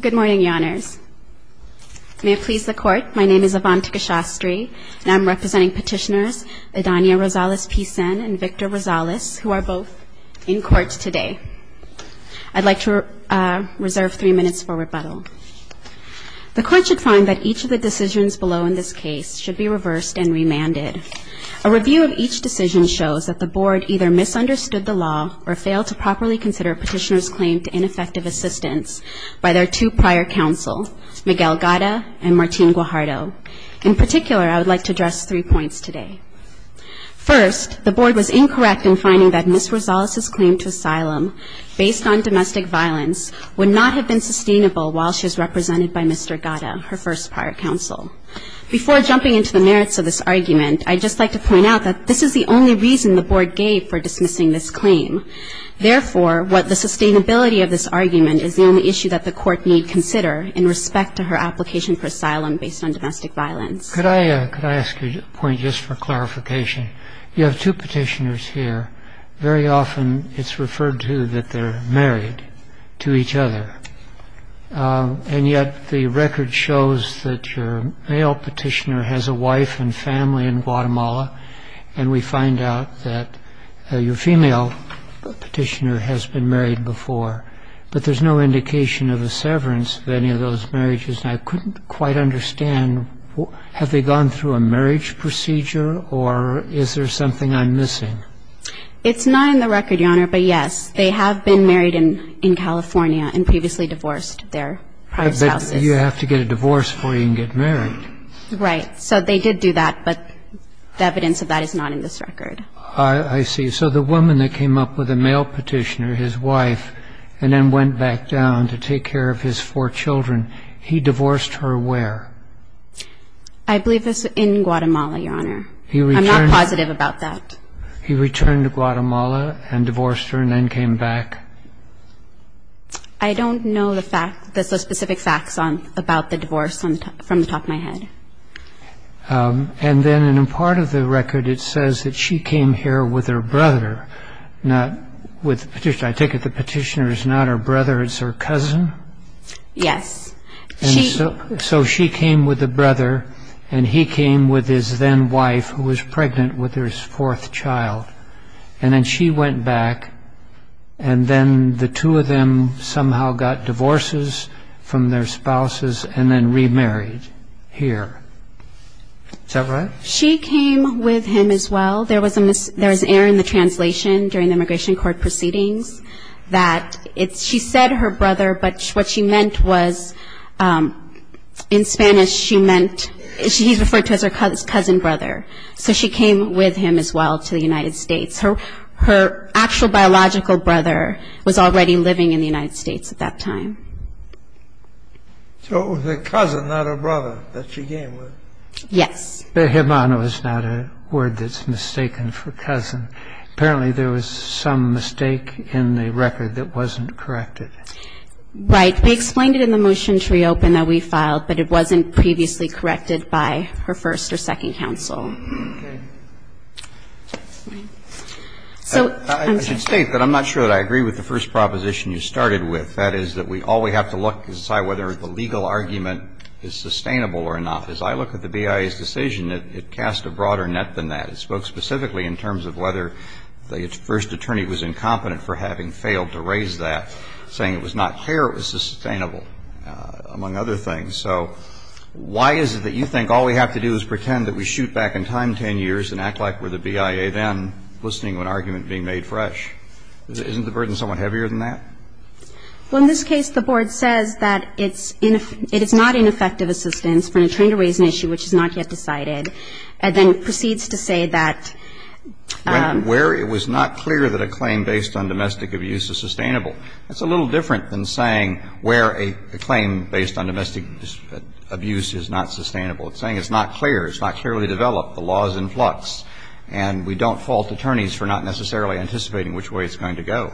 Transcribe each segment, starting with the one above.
Good morning, Your Honors. May it please the Court, my name is Avantika Shastri, and I'm representing petitioners Adania Rosales-Picen and Victor Rosales, who are both in court today. I'd like to reserve three minutes for rebuttal. The Court should find that each of the decisions below in this case should be reversed and remanded. A review of each decision shows that the Board either misunderstood the law or failed to properly consider a petitioner's claim to ineffective assistance by their two prior counsel, Miguel Gata and Martine Guajardo. In particular, I would like to address three points today. First, the Board was incorrect in finding that Ms. Rosales' claim to asylum, based on domestic violence, would not have been sustainable while she's represented by Mr. Gata, her first prior counsel. Before jumping into the merits of this argument, I'd just like to point out that this is the only reason the Board gave for dismissing this claim. Therefore, what the Board gave for dismissing this claim. So the sustainability of this argument is the only issue that the Court need consider in respect to her application for asylum based on domestic violence. Could I ask you a point just for clarification? You have two petitioners here. Very often, it's referred to that they're married to each other, and yet the record shows that your male petitioner has a wife and family in Guatemala, and we find out that your female petitioner has been married before. But there's no indication of a severance of any of those marriages, and I couldn't quite understand, have they gone through a marriage procedure, or is there something I'm missing? It's not in the record, Your Honor, but yes, they have been married in California and previously divorced their prior spouses. But you have to get a divorce before you can get married. Right. So they did do that, but the evidence of that is not in this record. I see. So the woman that came up with a male petitioner, his wife, and then went back down to take care of his four children, he divorced her where? I believe it's in Guatemala, Your Honor. I'm not positive about that. He returned to Guatemala and divorced her and then came back? I don't know the specific facts about the divorce from the top of my head. And then in part of the record, it says that she came here with her brother, not with the petitioner. I take it the petitioner is not her brother, it's her cousin? Yes. So she came with the brother, and he came with his then-wife, who was pregnant with his fourth child. And then she went back, and then the two of them somehow got divorces from their spouses and then remarried here. Is that right? She came with him as well. There was an error in the translation during the immigration court proceedings that she said her brother, but what she meant was, in Spanish, she meant, he's referred to as her cousin brother. So she came with him as well to the United States. Her actual biological brother was already living in the United States at that time. So it was her cousin, not her brother, that she came with? Yes. Behemono is not a word that's mistaken for cousin. Apparently there was some mistake in the record that wasn't corrected. Right. We explained it in the motion to reopen that we filed, but it wasn't previously corrected by her first or second counsel. Okay. So, I'm sorry. I should state that I'm not sure that I agree with the first proposition you started with. That is that all we have to look is whether the legal argument is sustainable or not. As I look at the BIA's decision, it casts a broader net than that. It spoke specifically in terms of whether the first attorney was incompetent for having failed to raise that, saying it was not clear it was sustainable, among other things. So why is it that you think all we have to do is pretend that we shoot back in time 10 years and act like we're the BIA then, listening to an argument being made fresh? Isn't the burden somewhat heavier than that? Well, in this case, the Board says that it's not ineffective assistance for an attorney to raise an issue which is not yet decided, and then proceeds to say that where it was not clear that a claim based on domestic abuse is sustainable. That's a little different than saying where a claim based on domestic abuse is not sustainable. It's saying it's not clear. It's not clearly developed. The law is in flux, and we don't fault attorneys for not necessarily anticipating which way it's going to go.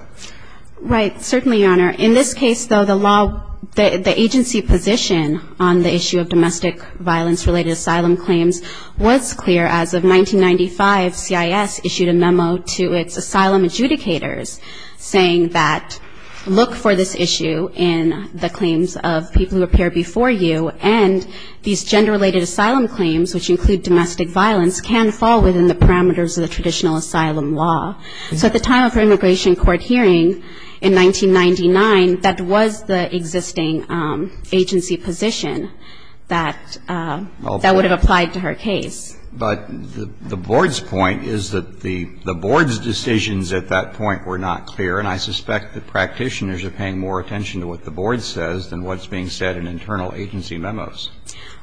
Right. Certainly, Your Honor. In this case, though, the agency position on the issue of domestic violence-related asylum claims was clear. As of 1995, CIS issued a memo to its asylum adjudicators, saying that look for this issue in the claims of people who appear before you, and these gender-related asylum claims, which include domestic violence, can fall within the parameters of the traditional asylum law. So at the time of her immigration court hearing in 1999, that was the existing agency position that was applied to her case. But the Board's point is that the Board's decisions at that point were not clear, and I suspect the practitioners are paying more attention to what the Board says than what's being said in internal agency memos.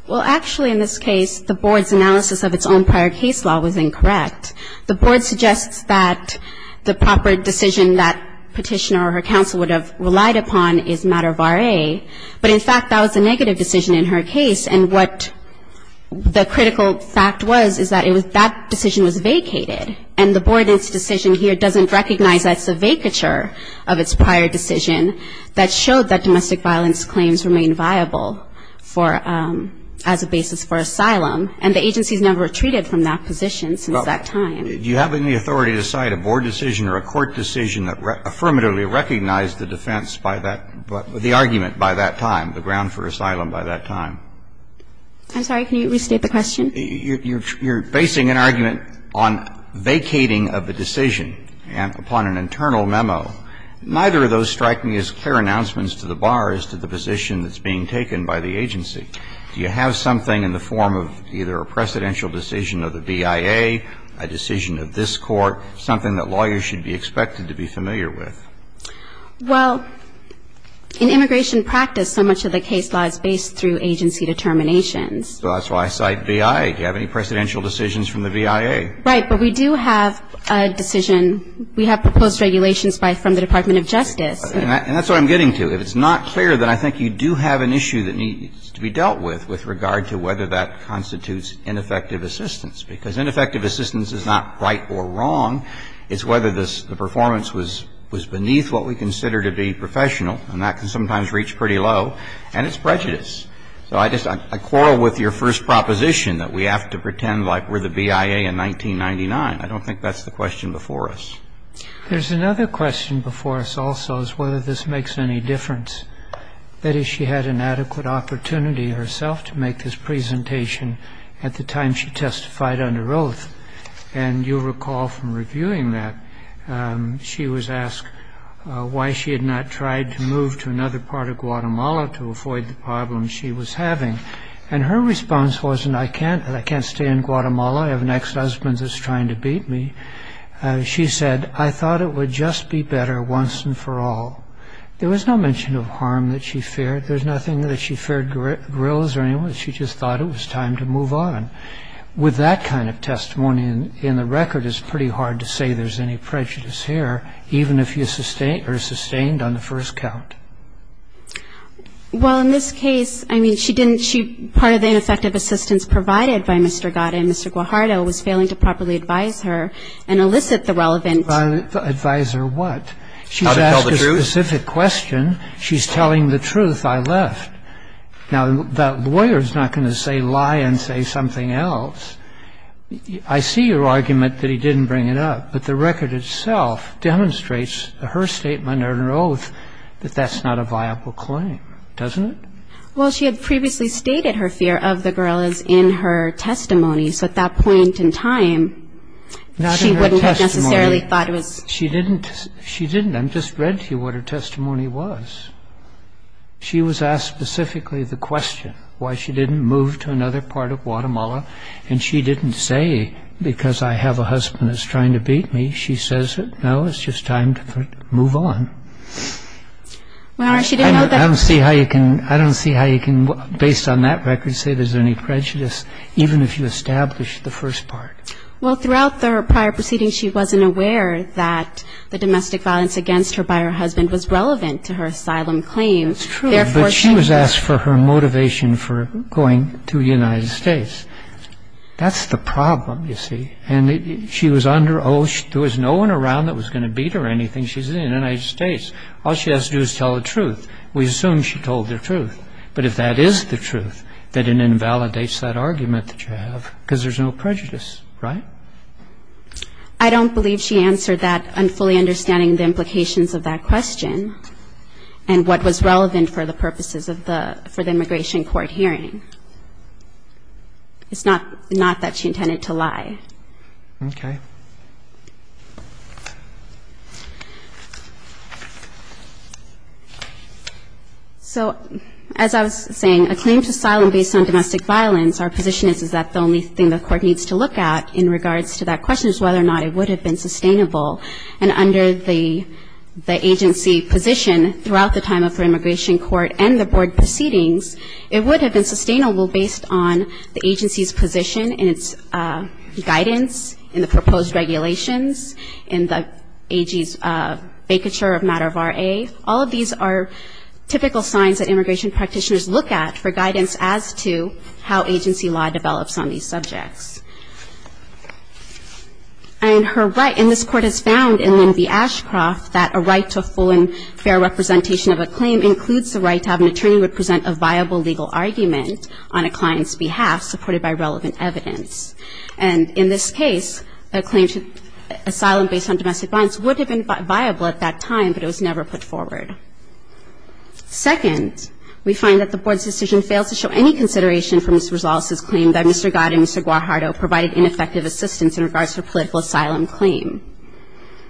Well, actually, in this case, the Board's analysis of its own prior case law was incorrect. The Board suggests that the proper decision that Petitioner or her counsel would have relied upon is matter of RA, but in fact, that was a negative decision in her case, and the critical fact was is that that decision was vacated, and the Board's decision here doesn't recognize that it's a vacature of its prior decision that showed that domestic violence claims remain viable for as a basis for asylum, and the agency's never retreated from that position since that time. Do you have any authority to cite a Board decision or a court decision that affirmatively recognized the defense by that, the argument by that time, the ground for asylum by that time? I'm sorry. Can you restate the question? You're basing an argument on vacating of the decision upon an internal memo. Neither of those strike me as clear announcements to the bar as to the position that's being taken by the agency. Do you have something in the form of either a precedential decision of the BIA, a decision of this Court, something that lawyers should be expected to be familiar with? Well, in immigration practice, so much of the case law is based through agency determinations. So that's why I cite BIA. Do you have any precedential decisions from the BIA? Right. But we do have a decision. We have proposed regulations by the Department of Justice. And that's what I'm getting to. If it's not clear, then I think you do have an issue that needs to be dealt with, with regard to whether that constitutes ineffective assistance, because ineffective assistance is not right or wrong. It's whether the performance was beneath what we consider to be professional, and that can sometimes reach pretty low. And it's prejudice. So I just quarrel with your first proposition, that we have to pretend like we're the BIA in 1999. I don't think that's the question before us. There's another question before us also, is whether this makes any difference. That is, she had an adequate opportunity herself to make this presentation at the time she testified under oath. And you'll recall from reviewing that, she was asked why she had not tried to move to another part of Guatemala to avoid the problems she was having. And her response wasn't, I can't, I can't stay in Guatemala. I have an ex-husband that's trying to beat me. She said, I thought it would just be better once and for all. There was no mention of harm that she feared. There's nothing that she feared guerrillas or anyone. But she just thought it was time to move on. With that kind of testimony in the record, it's pretty hard to say there's any prejudice here, even if you're sustained on the first count. Well, in this case, I mean, she didn't, she, part of the ineffective assistance provided by Mr. Gata and Mr. Guajardo was failing to properly advise her and elicit the relevant. Advise her what? How to tell the truth. She's asked a specific question. She's telling the truth. I left. Now, the lawyer's not going to say, lie and say something else. I see your argument that he didn't bring it up. But the record itself demonstrates her statement and her oath that that's not a viable claim, doesn't it? Well, she had previously stated her fear of the guerrillas in her testimony. So at that point in time, she wouldn't have necessarily thought it was. She didn't. She didn't. I just read to you what her testimony was. She was asked specifically the question, why she didn't move to another part of Guatemala. And she didn't say, because I have a husband that's trying to beat me. She says, no, it's just time to move on. I don't see how you can, based on that record, say there's any prejudice, even if you establish the first part. Well, throughout her prior proceedings, she wasn't aware that the domestic violence against her by her husband was relevant to her asylum claim. It's true. But she was asked for her motivation for going to the United States. That's the problem, you see. And she was under oath. There was no one around that was going to beat her or anything. She's in the United States. All she has to do is tell the truth. We assume she told the truth. But if that is the truth, then it invalidates that argument that you have, because there's no prejudice, right? I don't believe she answered that fully understanding the implications of that question and what was relevant for the purposes of the immigration court hearing. It's not that she intended to lie. Okay. So as I was saying, a claim to asylum based on domestic violence, our position is that the only thing the court needs to look at in regards to that question is whether or not it would have been sustainable. And under the agency position throughout the time of her immigration court and the board proceedings, it would have been sustainable based on the agency's position in its guidance, in the proposed regulations, in the AG's vacature of matter of RA. All of these are typical signs that immigration practitioners look at for guidance as to how agency law develops on these subjects. And her right, and this court has found in Lynn B. Ashcroft that a right to a full and fair representation of a claim includes the right to have an attorney present a viable legal argument on a client's behalf supported by relevant evidence. And in this case, a claim to asylum based on domestic violence would have been viable at that time, but it was never put forward. Second, we find that the board's decision fails to show any consideration from Ms. Rosales' claim that Mr. Goddard and Mr. Guajardo provided ineffective assistance in regards to a political asylum claim.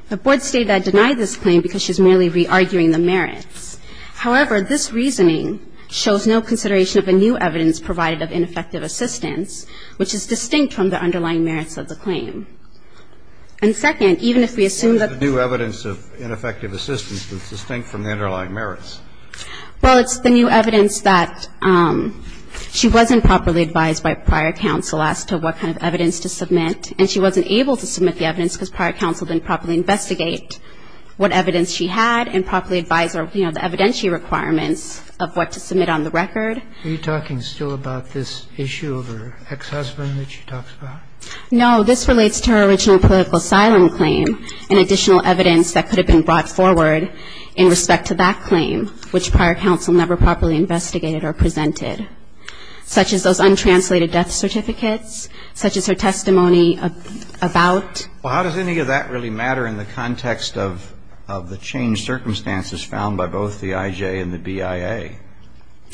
The board stated that it denied this claim because she's merely re-arguing the merits. However, this reasoning shows no consideration of a new evidence provided of ineffective assistance, which is distinct from the underlying merits of the claim. And second, even if we assume that the new evidence of ineffective assistance is distinct from the underlying merits. Well, it's the new evidence that she wasn't properly advised by prior counsel as to what kind of evidence to submit, and she wasn't able to submit the evidence because prior counsel didn't properly investigate what evidence she had and properly advise her, you know, the evidentiary requirements of what to submit on the record. Are you talking still about this issue of her ex-husband that she talks about? No. This relates to her original political asylum claim and additional evidence that could have been brought forward in respect to that claim, which prior counsel never properly investigated or presented, such as those untranslated death certificates, such as her testimony about. Well, how does any of that really matter in the context of the changed circumstances found by both the IJ and the BIA?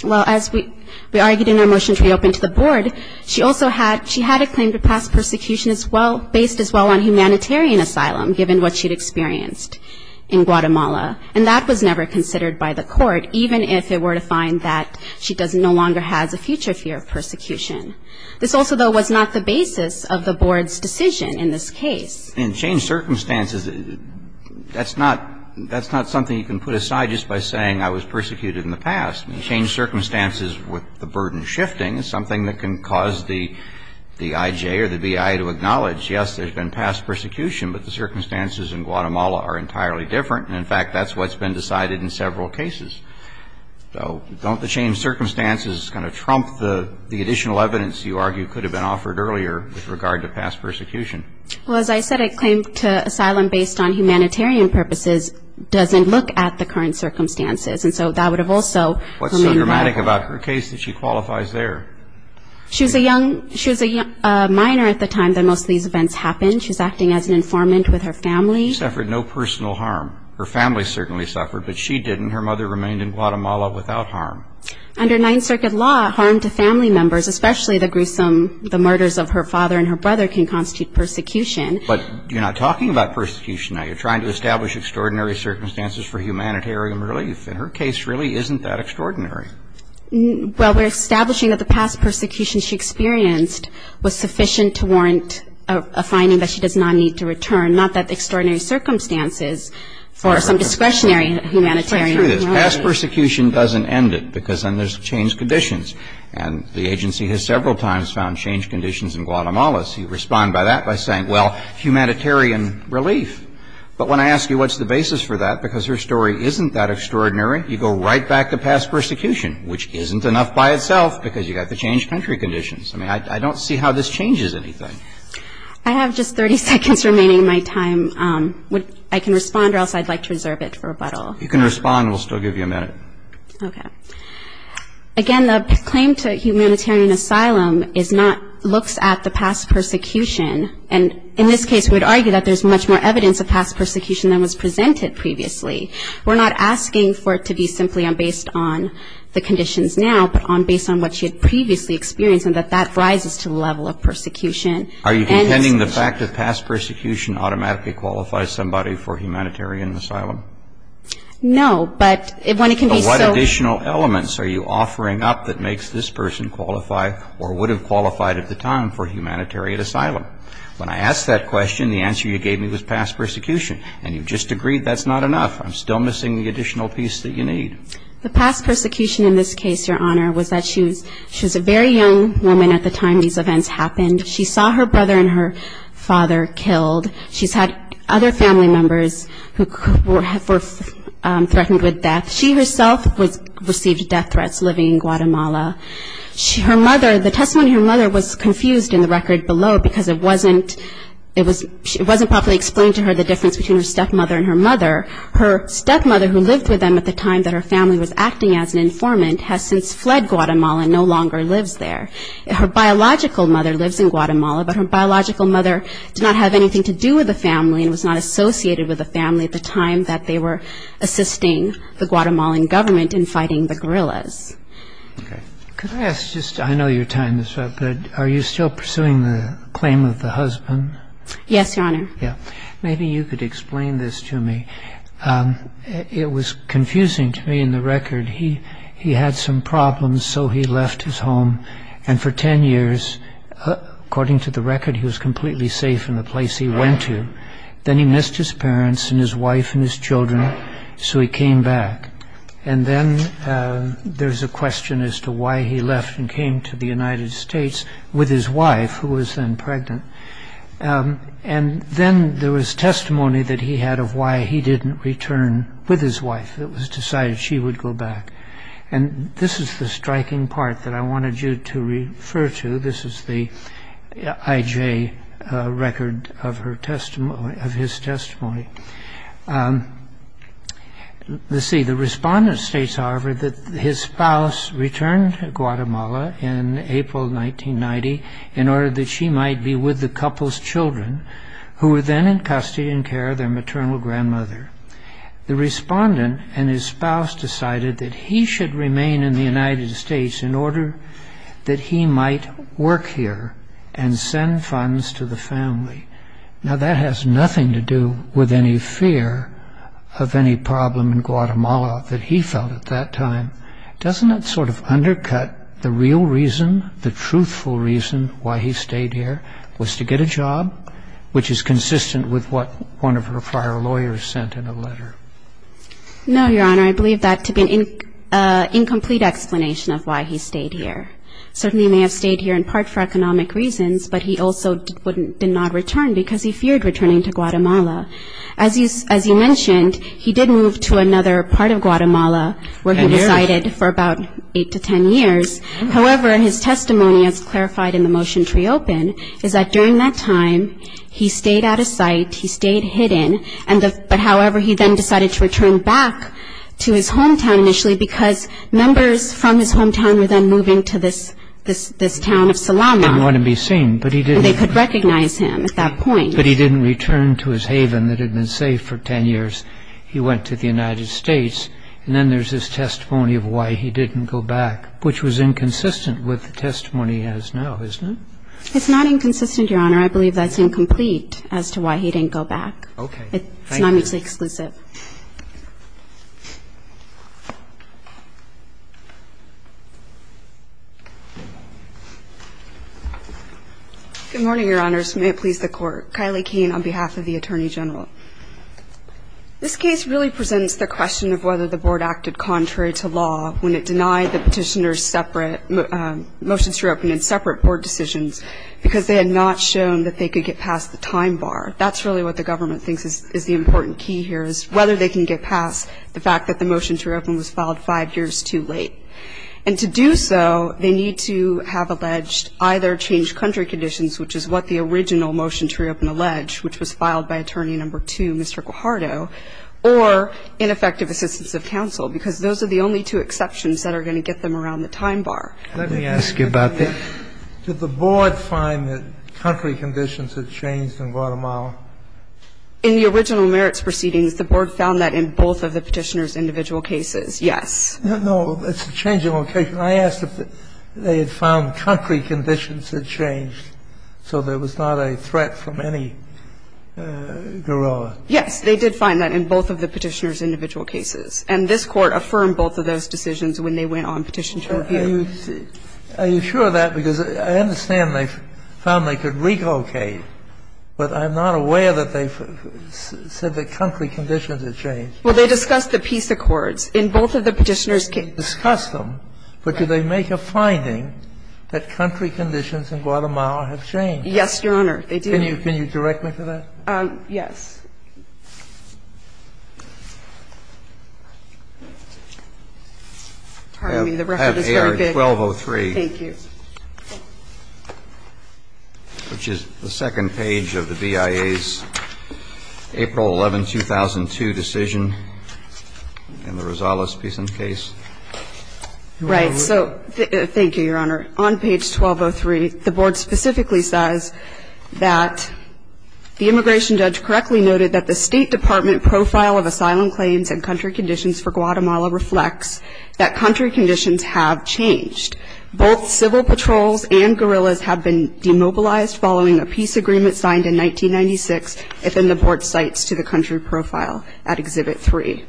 Well, as we argued in our motion to reopen to the board, she also had, she had a claim to past persecution as well, based as well on humanitarian asylum, given what she'd experienced in Guatemala, and that was never considered by the court, even if it were to find that she doesn't, no longer has a future fear of persecution. This also, though, was not the basis of the board's decision in this case. In changed circumstances, that's not, that's not something you can put aside just by saying I was persecuted in the past. In changed circumstances, with the burden shifting, something that can cause the IJ or the BIA to acknowledge, yes, there's been past persecution, but the circumstances in Guatemala are entirely different, and in fact, that's what's been decided in several cases. So don't the changed circumstances kind of trump the additional evidence you argue could have been offered earlier with regard to past persecution? Well, as I said, a claim to asylum based on humanitarian purposes doesn't look at the current circumstances, and so that would have also remained legal. What's so dramatic about her case that she qualifies there? She was a young, she was a minor at the time that most of these events happened. She was acting as an informant with her family. She suffered no personal harm. Her family certainly suffered, but she didn't. Her mother remained in Guatemala without harm. Under Ninth Circuit law, harm to family members, especially the gruesome, the murders of her father and her brother, can constitute persecution. But you're not talking about persecution. Now, you're trying to establish extraordinary circumstances for humanitarian relief, and her case really isn't that extraordinary. Well, we're establishing that the past persecution she experienced was sufficient to warrant a finding that she does not need to return, not that extraordinary circumstances for some discretionary humanitarian relief. Let's play through this. Past persecution doesn't end it because then there's changed conditions, and the agency has several times found changed conditions in Guatemala. You respond by that by saying, well, humanitarian relief. But when I ask you what's the basis for that, because her story isn't that extraordinary, you go right back to past persecution, which isn't enough by itself because you've got the changed country conditions. I mean, I don't see how this changes anything. I have just 30 seconds remaining in my time. I can respond or else I'd like to reserve it for rebuttal. You can respond. We'll still give you a minute. Okay. Again, the claim to humanitarian asylum is not looks at the past persecution. And in this case, we would argue that there's much more evidence of past persecution than was presented previously. We're not asking for it to be simply based on the conditions now, but based on what she had previously experienced and that that rises to the level of persecution. Are you contending the fact that past persecution automatically qualifies somebody for humanitarian asylum? No, but when it can be so. What additional elements are you offering up that makes this person qualify or would have qualified at the time for humanitarian asylum? When I asked that question, the answer you gave me was past persecution. And you've just agreed that's not enough. I'm still missing the additional piece that you need. The past persecution in this case, Your Honor, was that she was a very young woman at the time these events happened. She saw her brother and her father killed. She's had other family members who were threatened with death. She herself received death threats living in Guatemala. Her mother, the testimony of her mother was confused in the record below because it wasn't properly explained to her the difference between her stepmother and her mother. Her stepmother, who lived with them at the time that her family was acting as an informant, has since fled Guatemala and no longer lives there. Her biological mother lives in Guatemala, but her biological mother did not have anything to do with the family and was not associated with the family at the time that they were assisting the Guatemalan government in fighting the guerrillas. Okay. Could I ask just, I know you're tying this up, but are you still pursuing the claim of the husband? Yes, Your Honor. Yeah. Maybe you could explain this to me. It was confusing to me in the record. He had some problems, so he left his home, and for 10 years, according to the record, he was completely safe in the place he went to. Then he missed his parents and his wife and his children, so he came back. And then there's a question as to why he left and came to the United States with his wife, who was then pregnant. And then there was testimony that he had of why he didn't return with his wife. It was decided she would go back. And this is the striking part that I wanted you to refer to. This is the IJ record of his testimony. Let's see. The respondent states, however, that his spouse returned to Guatemala in April 1990 in order that she might be with the couple's children, who were then in custody and care of their maternal grandmother. The respondent and his spouse decided that he should remain in the United States in order that he might work here and send funds to the family. Now, that has nothing to do with any fear of any problem in Guatemala that he felt at that time. Doesn't that sort of undercut the real reason, the truthful reason, why he stayed here was to get a job, which is consistent with what one of her prior lawyers sent in a letter? No, Your Honor, I believe that to be an incomplete explanation of why he stayed here. Certainly he may have stayed here in part for economic reasons, but he also did not return because he feared returning to Guatemala. As he mentioned, he did move to another part of Guatemala where he resided for about 8 to 10 years. However, his testimony, as clarified in the motion to reopen, is that during that time he stayed out of sight, he stayed hidden, but, however, he then decided to return back to his hometown initially because members from his hometown were then moving to this town of Salama. He didn't want to be seen, but he didn't. They could recognize him at that point. But he didn't return to his haven that had been safe for 10 years. He went to the United States, and then there's this testimony of why he didn't go back, which was inconsistent with the testimony he has now, isn't it? It's not inconsistent, Your Honor. I believe that's incomplete as to why he didn't go back. Okay. Thank you. It's not mutually exclusive. Good morning, Your Honors. May it please the Court. Kylie Keane on behalf of the Attorney General. This case really presents the question of whether the Board acted contrary to law when it denied the Petitioner's separate motions to reopen and separate Board decisions because they had not shown that they could get past the time bar. That's really what the government thinks is the important key here, is whether they can get past the fact that the motion to reopen was filed five years too late. And to do so, they need to have alleged either changed country conditions, which is what the original motion to reopen alleged, which was filed by Attorney No. 2, Mr. Guajardo, or ineffective assistance of counsel, because those are the only two exceptions that are going to get them around the time bar. Let me ask you about that. Did the Board find that country conditions had changed in Guatemala? In the original merits proceedings, the Board found that in both of the Petitioner's individual cases, yes. No, no. It's a change in location. I asked if they had found country conditions had changed, so there was not a threat from any guerrilla. Yes. They did find that in both of the Petitioner's individual cases. And this Court affirmed both of those decisions when they went on petition to review. Are you sure of that? Because I understand they found they could relocate, but I'm not aware that they said that country conditions had changed. Well, they discussed the peace accords. In both of the Petitioner's cases. They discussed them, but did they make a finding that country conditions in Guatemala have changed? Yes, Your Honor, they did. Can you direct me to that? Yes. I have AR-1203. Thank you. Which is the second page of the BIA's April 11, 2002 decision in the Rosales Peace in Case. Right. So thank you, Your Honor. On page 1203, the Board specifically says that the immigration judge correctly noted that the State Department profile of asylum claims and country conditions for Guatemala reflects that country conditions have changed. Both civil patrols and guerrillas have been demobilized following a peace agreement signed in 1996, and then the Board cites to the country profile at Exhibit 3.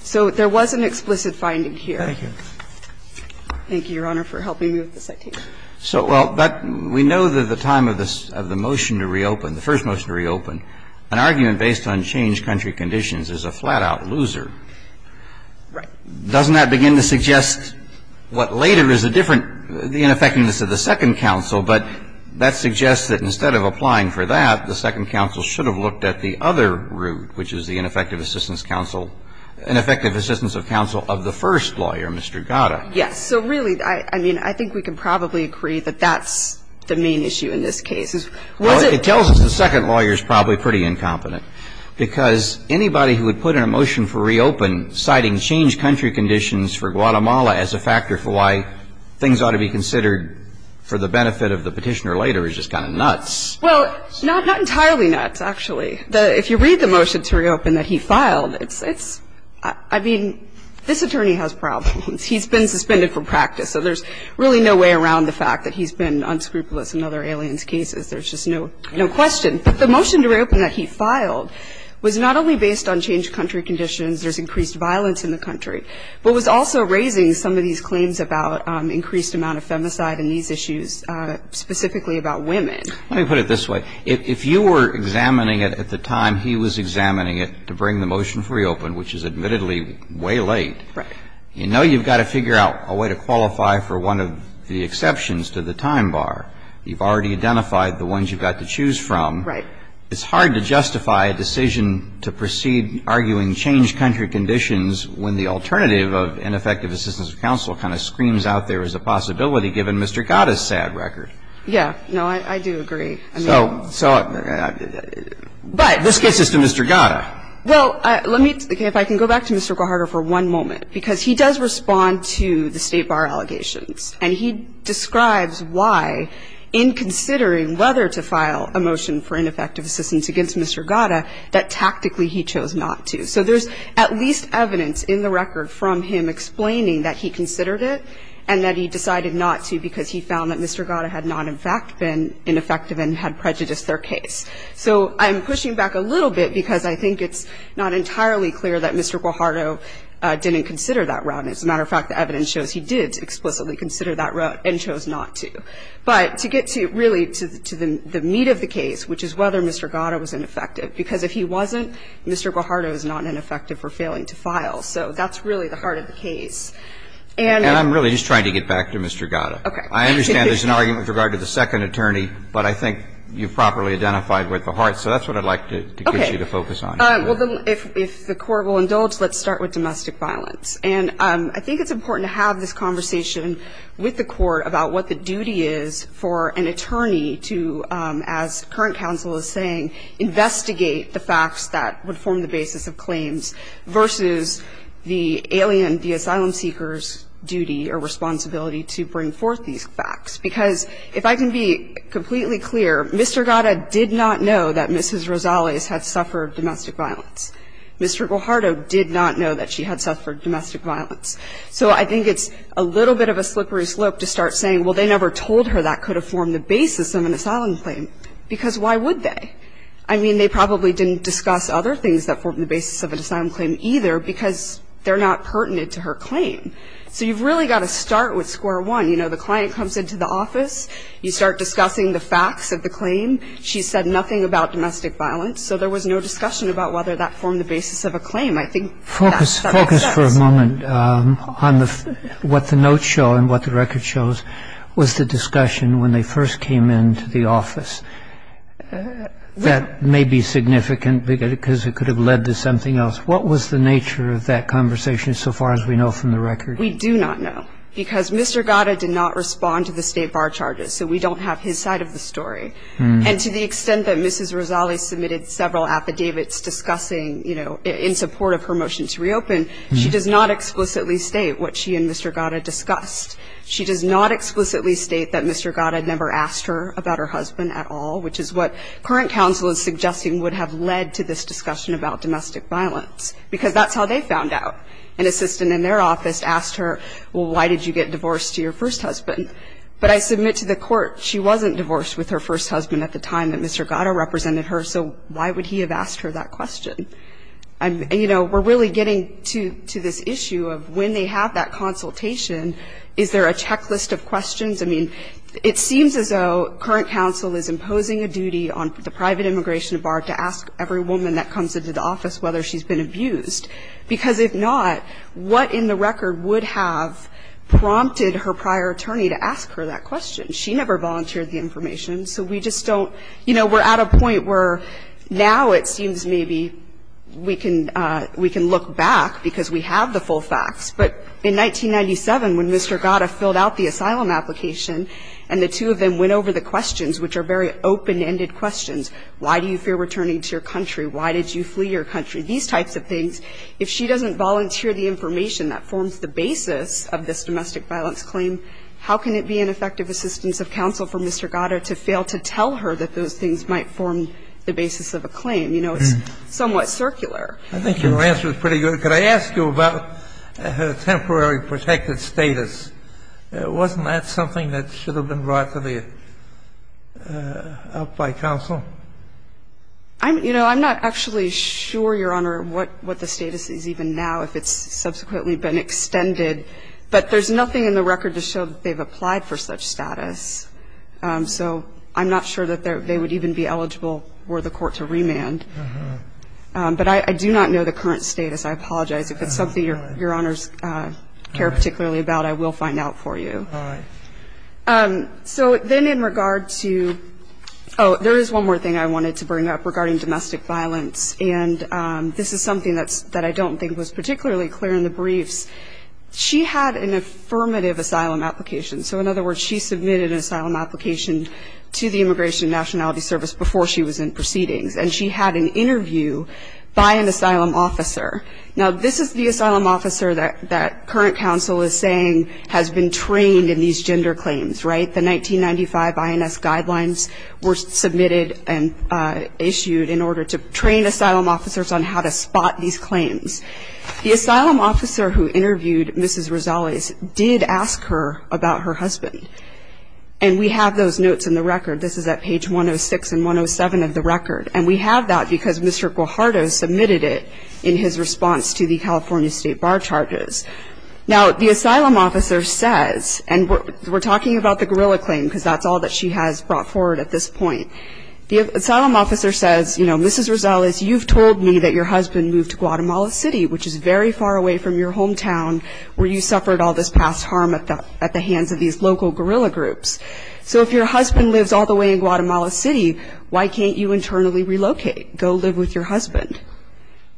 So there was an explicit finding here. Thank you. Thank you, Your Honor, for helping me with this. So, well, we know that the time of the motion to reopen, the first motion to reopen, an argument based on changed country conditions is a flat-out loser. Right. Doesn't that begin to suggest what later is a different, the ineffectiveness of the second counsel? But that suggests that instead of applying for that, the second counsel should have looked at the other route, which is the ineffective assistance counsel, ineffective assistance of counsel of the first lawyer, Mr. Gada. Yes. So really, I mean, I think we can probably agree that that's the main issue in this case. It tells us the second lawyer is probably pretty incompetent, because anybody who would put in a motion for reopen citing changed country conditions for Guatemala as a factor for why things ought to be considered for the benefit of the petitioner later is just kind of nuts. Well, not entirely nuts, actually. If you read the motion to reopen that he filed, it's, I mean, this attorney has problems. He's been suspended from practice. So there's really no way around the fact that he's been unscrupulous in other aliens' cases. There's just no question. But the motion to reopen that he filed was not only based on changed country conditions, there's increased violence in the country, but was also raising some of these claims about increased amount of femicide and these issues specifically about women. Let me put it this way. If you were examining it at the time he was examining it to bring the motion for reopen, which is admittedly way late. Right. You know you've got to figure out a way to qualify for one of the exceptions to the time bar. You've already identified the ones you've got to choose from. Right. It's hard to justify a decision to proceed arguing changed country conditions when the alternative of ineffective assistance of counsel kind of screams out there as a possibility, given Mr. Gatta's sad record. Yeah. No, I do agree. I mean. So this gets us to Mr. Gatta. Well, let me, if I can go back to Mr. Gatta for one moment, because he does respond to the State Bar allegations. And he describes why, in considering whether to file a motion for ineffective assistance against Mr. Gatta, that tactically he chose not to. So there's at least evidence in the record from him explaining that he considered it and that he decided not to because he found that Mr. Gatta had not, in fact, been ineffective and had prejudiced their case. So I'm pushing back a little bit because I think it's not entirely clear that Mr. Guajardo didn't consider that route. As a matter of fact, the evidence shows he did explicitly consider that route and chose not to. But to get to, really, to the meat of the case, which is whether Mr. Gatta was ineffective, because if he wasn't, Mr. Guajardo is not ineffective for failing to file. So that's really the heart of the case. And I'm really just trying to get back to Mr. Gatta. Okay. I understand there's an argument with regard to the second attorney, but I think you've properly identified with the heart. So that's what I'd like to get you to focus on. Okay. Well, if the Court will indulge, let's start with domestic violence. And I think it's important to have this conversation with the Court about what the duty is for an attorney to, as current counsel is saying, investigate the facts that would form the basis of claims versus the alien, the asylum seeker's duty or responsibility to bring forth these facts. Because if I can be completely clear, Mr. Gatta did not know that Mrs. Rosales had suffered domestic violence. Mr. Guajardo did not know that she had suffered domestic violence. So I think it's a little bit of a slippery slope to start saying, well, they never told her that could have formed the basis of an asylum claim, because why would they? I mean, they probably didn't discuss other things that formed the basis of an asylum claim either because they're not pertinent to her claim. So you've really got to start with square one. You know, the client comes into the office. You start discussing the facts of the claim. She said nothing about domestic violence. So there was no discussion about whether that formed the basis of a claim. I think that's not the case. Focus for a moment on what the notes show and what the record shows was the discussion when they first came into the office. That may be significant because it could have led to something else. What was the nature of that conversation so far as we know from the record? We do not know because Mr. Gatta did not respond to the state bar charges. So we don't have his side of the story. And to the extent that Mrs. Razzali submitted several affidavits discussing, you know, in support of her motion to reopen, she does not explicitly state what she and Mr. Gatta discussed. She does not explicitly state that Mr. Gatta never asked her about her husband at all, which is what current counsel is suggesting would have led to this discussion about domestic violence, because that's how they found out. An assistant in their office asked her, well, why did you get divorced to your first husband? But I submit to the court she wasn't divorced with her first husband at the time that Mr. Gatta represented her, so why would he have asked her that question? And, you know, we're really getting to this issue of when they have that consultation, is there a checklist of questions? I mean, it seems as though current counsel is imposing a duty on the private immigration bar to ask every woman that comes into the office whether she's been abused. Because if not, what in the record would have prompted her prior attorney to ask her that question? She never volunteered the information. So we just don't, you know, we're at a point where now it seems maybe we can look back because we have the full facts. But in 1997, when Mr. Gatta filled out the asylum application and the two of them went over the questions, which are very open-ended questions, why do you fear returning to your country? Why did you flee your country? These types of things. If she doesn't volunteer the information that forms the basis of this domestic violence claim, how can it be an effective assistance of counsel for Mr. Gatta to fail to tell her that those things might form the basis of a claim? You know, it's somewhat circular. I think your answer is pretty good. Could I ask you about her temporary protected status? Wasn't that something that should have been brought to the up by counsel? You know, I'm not actually sure, Your Honor, what the status is even now, if it's subsequently been extended. But there's nothing in the record to show that they've applied for such status. So I'm not sure that they would even be eligible were the court to remand. But I do not know the current status. I apologize. If it's something Your Honors care particularly about, I will find out for you. All right. So then in regard to oh, there is one more thing I wanted to bring up regarding domestic violence. And this is something that I don't think was particularly clear in the briefs. She had an affirmative asylum application. So in other words, she submitted an asylum application to the Immigration and Nationality Service before she was in proceedings. And she had an interview by an asylum officer. Now, this is the asylum officer that current counsel is saying has been trained in these gender claims, right? The 1995 INS guidelines were submitted and issued in order to train asylum officers on how to spot these claims. The asylum officer who interviewed Mrs. Rosales did ask her about her husband. And we have those notes in the record. This is at page 106 and 107 of the record. And we have that because Mr. Guajardo submitted it in his response to the California State Bar charges. Now, the asylum officer says, and we're talking about the guerrilla claim because that's all that she has brought forward at this point. The asylum officer says, you know, Mrs. Rosales, you've told me that your husband moved to Guatemala City, which is very far away from your hometown where you suffered all this past harm at the hands of these local guerrilla groups. So if your husband lives all the way in Guatemala City, why can't you internally relocate, go live with your husband?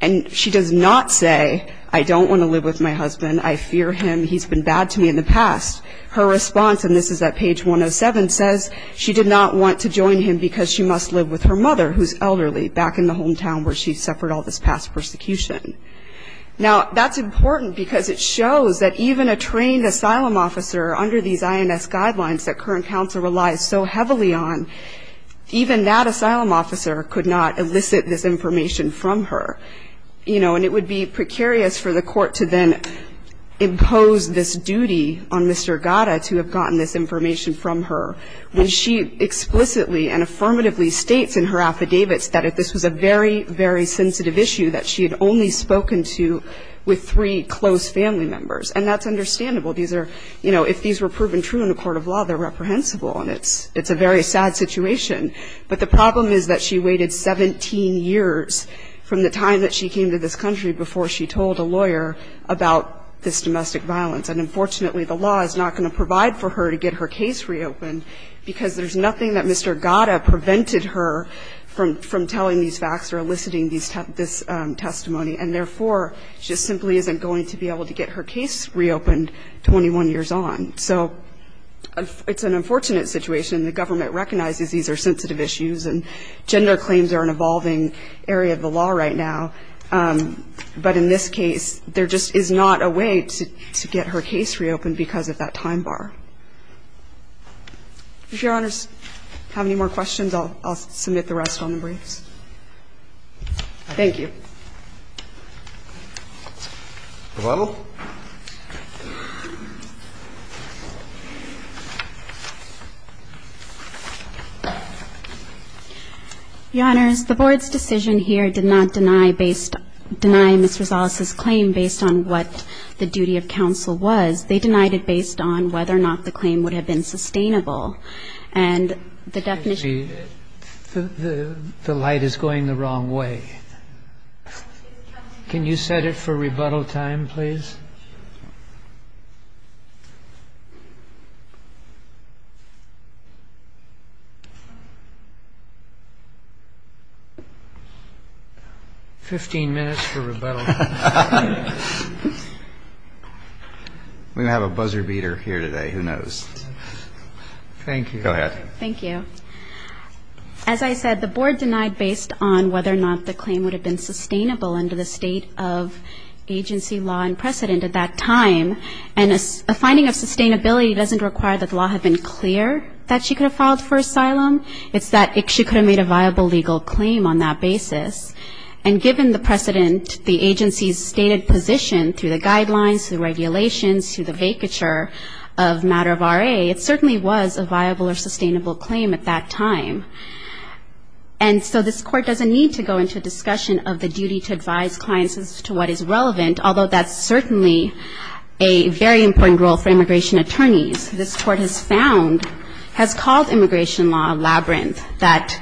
And she does not say, I don't want to live with my husband. I fear him. He's been bad to me in the past. Her response, and this is at page 107, says she did not want to join him because she must live with her mother, who's elderly, back in the hometown where she suffered all this past persecution. Now, that's important because it shows that even a trained asylum officer under these INS guidelines that current counsel relies so heavily on, even that asylum officer could not elicit this information from her. You know, and it would be precarious for the court to then impose this duty on Mr. Gata to have gotten this information from her when she explicitly and affirmatively states in her affidavits that this was a very, very sensitive issue that she had only spoken to with three close family members. And that's understandable. These are, you know, if these were proven true in a court of law, they're reprehensible, and it's a very sad situation. But the problem is that she waited 17 years from the time that she came to this country before she told a lawyer about this domestic violence. And, unfortunately, the law is not going to provide for her to get her case reopened because there's nothing that Mr. Gata prevented her from telling these facts or eliciting this testimony. And, therefore, she simply isn't going to be able to get her case reopened 21 years on. So it's an unfortunate situation. The government recognizes these are sensitive issues, and gender claims are an evolving area of the law right now. But in this case, there just is not a way to get her case reopened because of that time bar. If Your Honors have any more questions, I'll submit the rest on the briefs. Thank you. Hello? Your Honors, the Board's decision here did not deny based ñ deny Ms. Rosales' claim based on what the duty of counsel was. They denied it based on whether or not the claim would have been sustainable. And the definition ñ The light is going the wrong way. Can you set it for rebuttal time, please? Fifteen minutes for rebuttal. We're going to have a buzzer beater here today. Who knows? Thank you. Go ahead. Thank you. As I said, the Board denied based on whether or not the claim would have been sustainable under the state of agency law and precedent at that time. And a finding of sustainability doesn't require that the law had been clear that she could have filed for asylum. It's that she could have made a viable legal claim on that basis. And given the precedent, the agency's stated position through the guidelines, through regulations, through the vacature of matter of RA, it certainly was a viable or sustainable claim at that time. And so this Court doesn't need to go into discussion of the duty to advise clients as to what is relevant, although that's certainly a very important role for immigration attorneys. This Court has found, has called immigration law a labyrinth that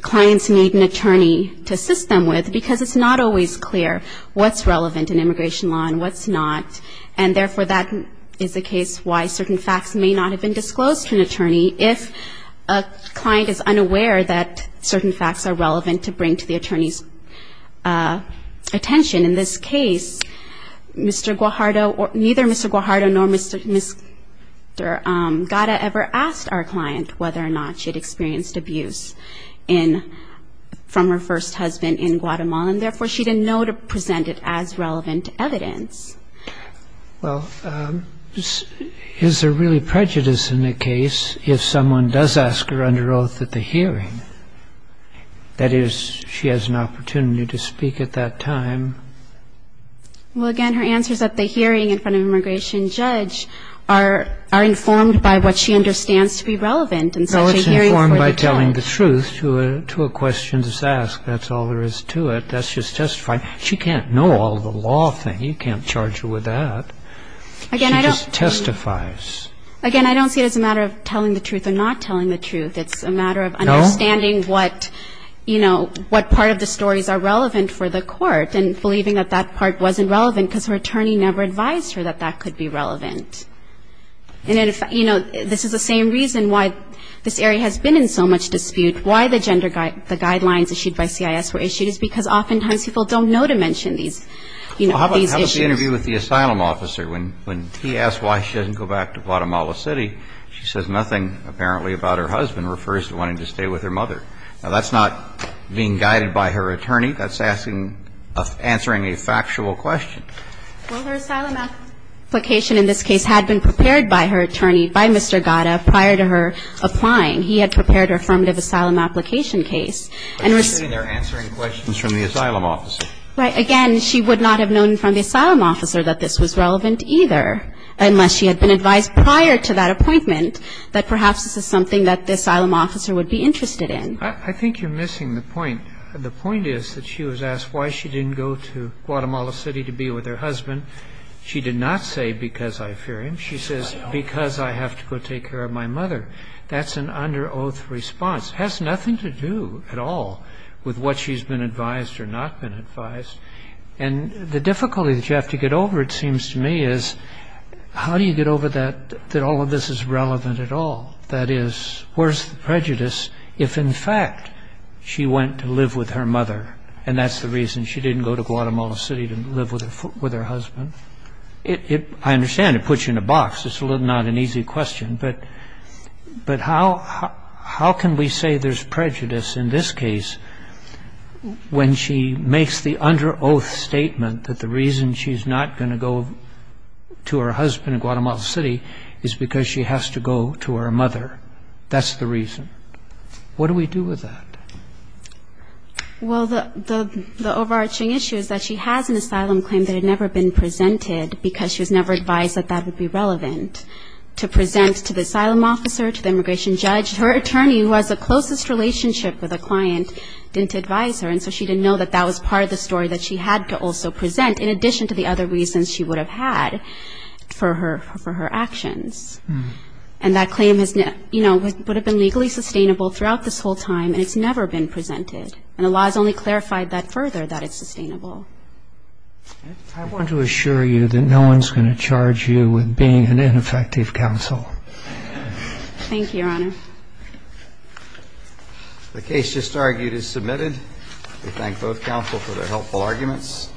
clients need an attorney to assist them with because it's not always clear what's relevant in immigration law and what's not. And therefore, that is the case why certain facts may not have been disclosed to an And the client is unaware that certain facts are relevant to bring to the attorney's attention. In this case, Mr. Guajardo, neither Mr. Guajardo nor Ms. Gata ever asked our client whether or not she had experienced abuse in, from her first husband in Guatemala, and therefore she didn't know to present it as relevant evidence. Well, is there really prejudice in the case if someone does ask her under oath at the hearing? That is, she has an opportunity to speak at that time. Well, again, her answers at the hearing in front of an immigration judge are informed by what she understands to be relevant in such a hearing. No, it's informed by telling the truth to a question that's asked. That's all there is to it. That's just testifying. She can't know all the law thing. You can't charge her with that. She just testifies. Again, I don't see it as a matter of telling the truth or not telling the truth. It's a matter of understanding what, you know, what part of the stories are relevant for the court and believing that that part wasn't relevant because her attorney never advised her that that could be relevant. And, you know, this is the same reason why this area has been in so much dispute. Why the gender guidelines issued by CIS were issued is because oftentimes people don't know to mention these, you know, these issues. Well, how about the interview with the asylum officer? When he asks why she doesn't go back to Guatemala City, she says nothing apparently about her husband, refers to wanting to stay with her mother. Now, that's not being guided by her attorney. That's asking, answering a factual question. Well, her asylum application in this case had been prepared by her attorney, by Mr. Gada, prior to her applying. He had prepared her affirmative asylum application case. And it was... They're answering questions from the asylum officer. Right. Again, she would not have known from the asylum officer that this was relevant either unless she had been advised prior to that appointment that perhaps this is something that the asylum officer would be interested in. I think you're missing the point. The point is that she was asked why she didn't go to Guatemala City to be with her husband. She did not say because I fear him. She says because I have to go take care of my mother. That's an under oath response. It has nothing to do at all with what she's been advised or not been advised. And the difficulty that you have to get over, it seems to me, is how do you get over that all of this is relevant at all? That is, where's the prejudice if in fact she went to live with her mother and that's the reason she didn't go to Guatemala City to live with her husband? I understand it puts you in a box. It's not an easy question. But how can we say there's prejudice in this case when she makes the under oath statement that the reason she's not going to go to her husband in Guatemala City is because she has to go to her mother? That's the reason. What do we do with that? Well, the overarching issue is that she has an asylum claim that had never been presented because she was never advised that that would be relevant to present to the asylum officer, to the immigration judge. Her attorney, who has the closest relationship with the client, didn't advise her, and so she didn't know that that was part of the story that she had to also present in addition to the other reasons she would have had for her actions. And that claim would have been legally sustainable throughout this whole time and it's never been presented. I want to assure you that no one's going to charge you with being an ineffective counsel. Thank you, Your Honor. The case just argued is submitted. We thank both counsel for their helpful arguments.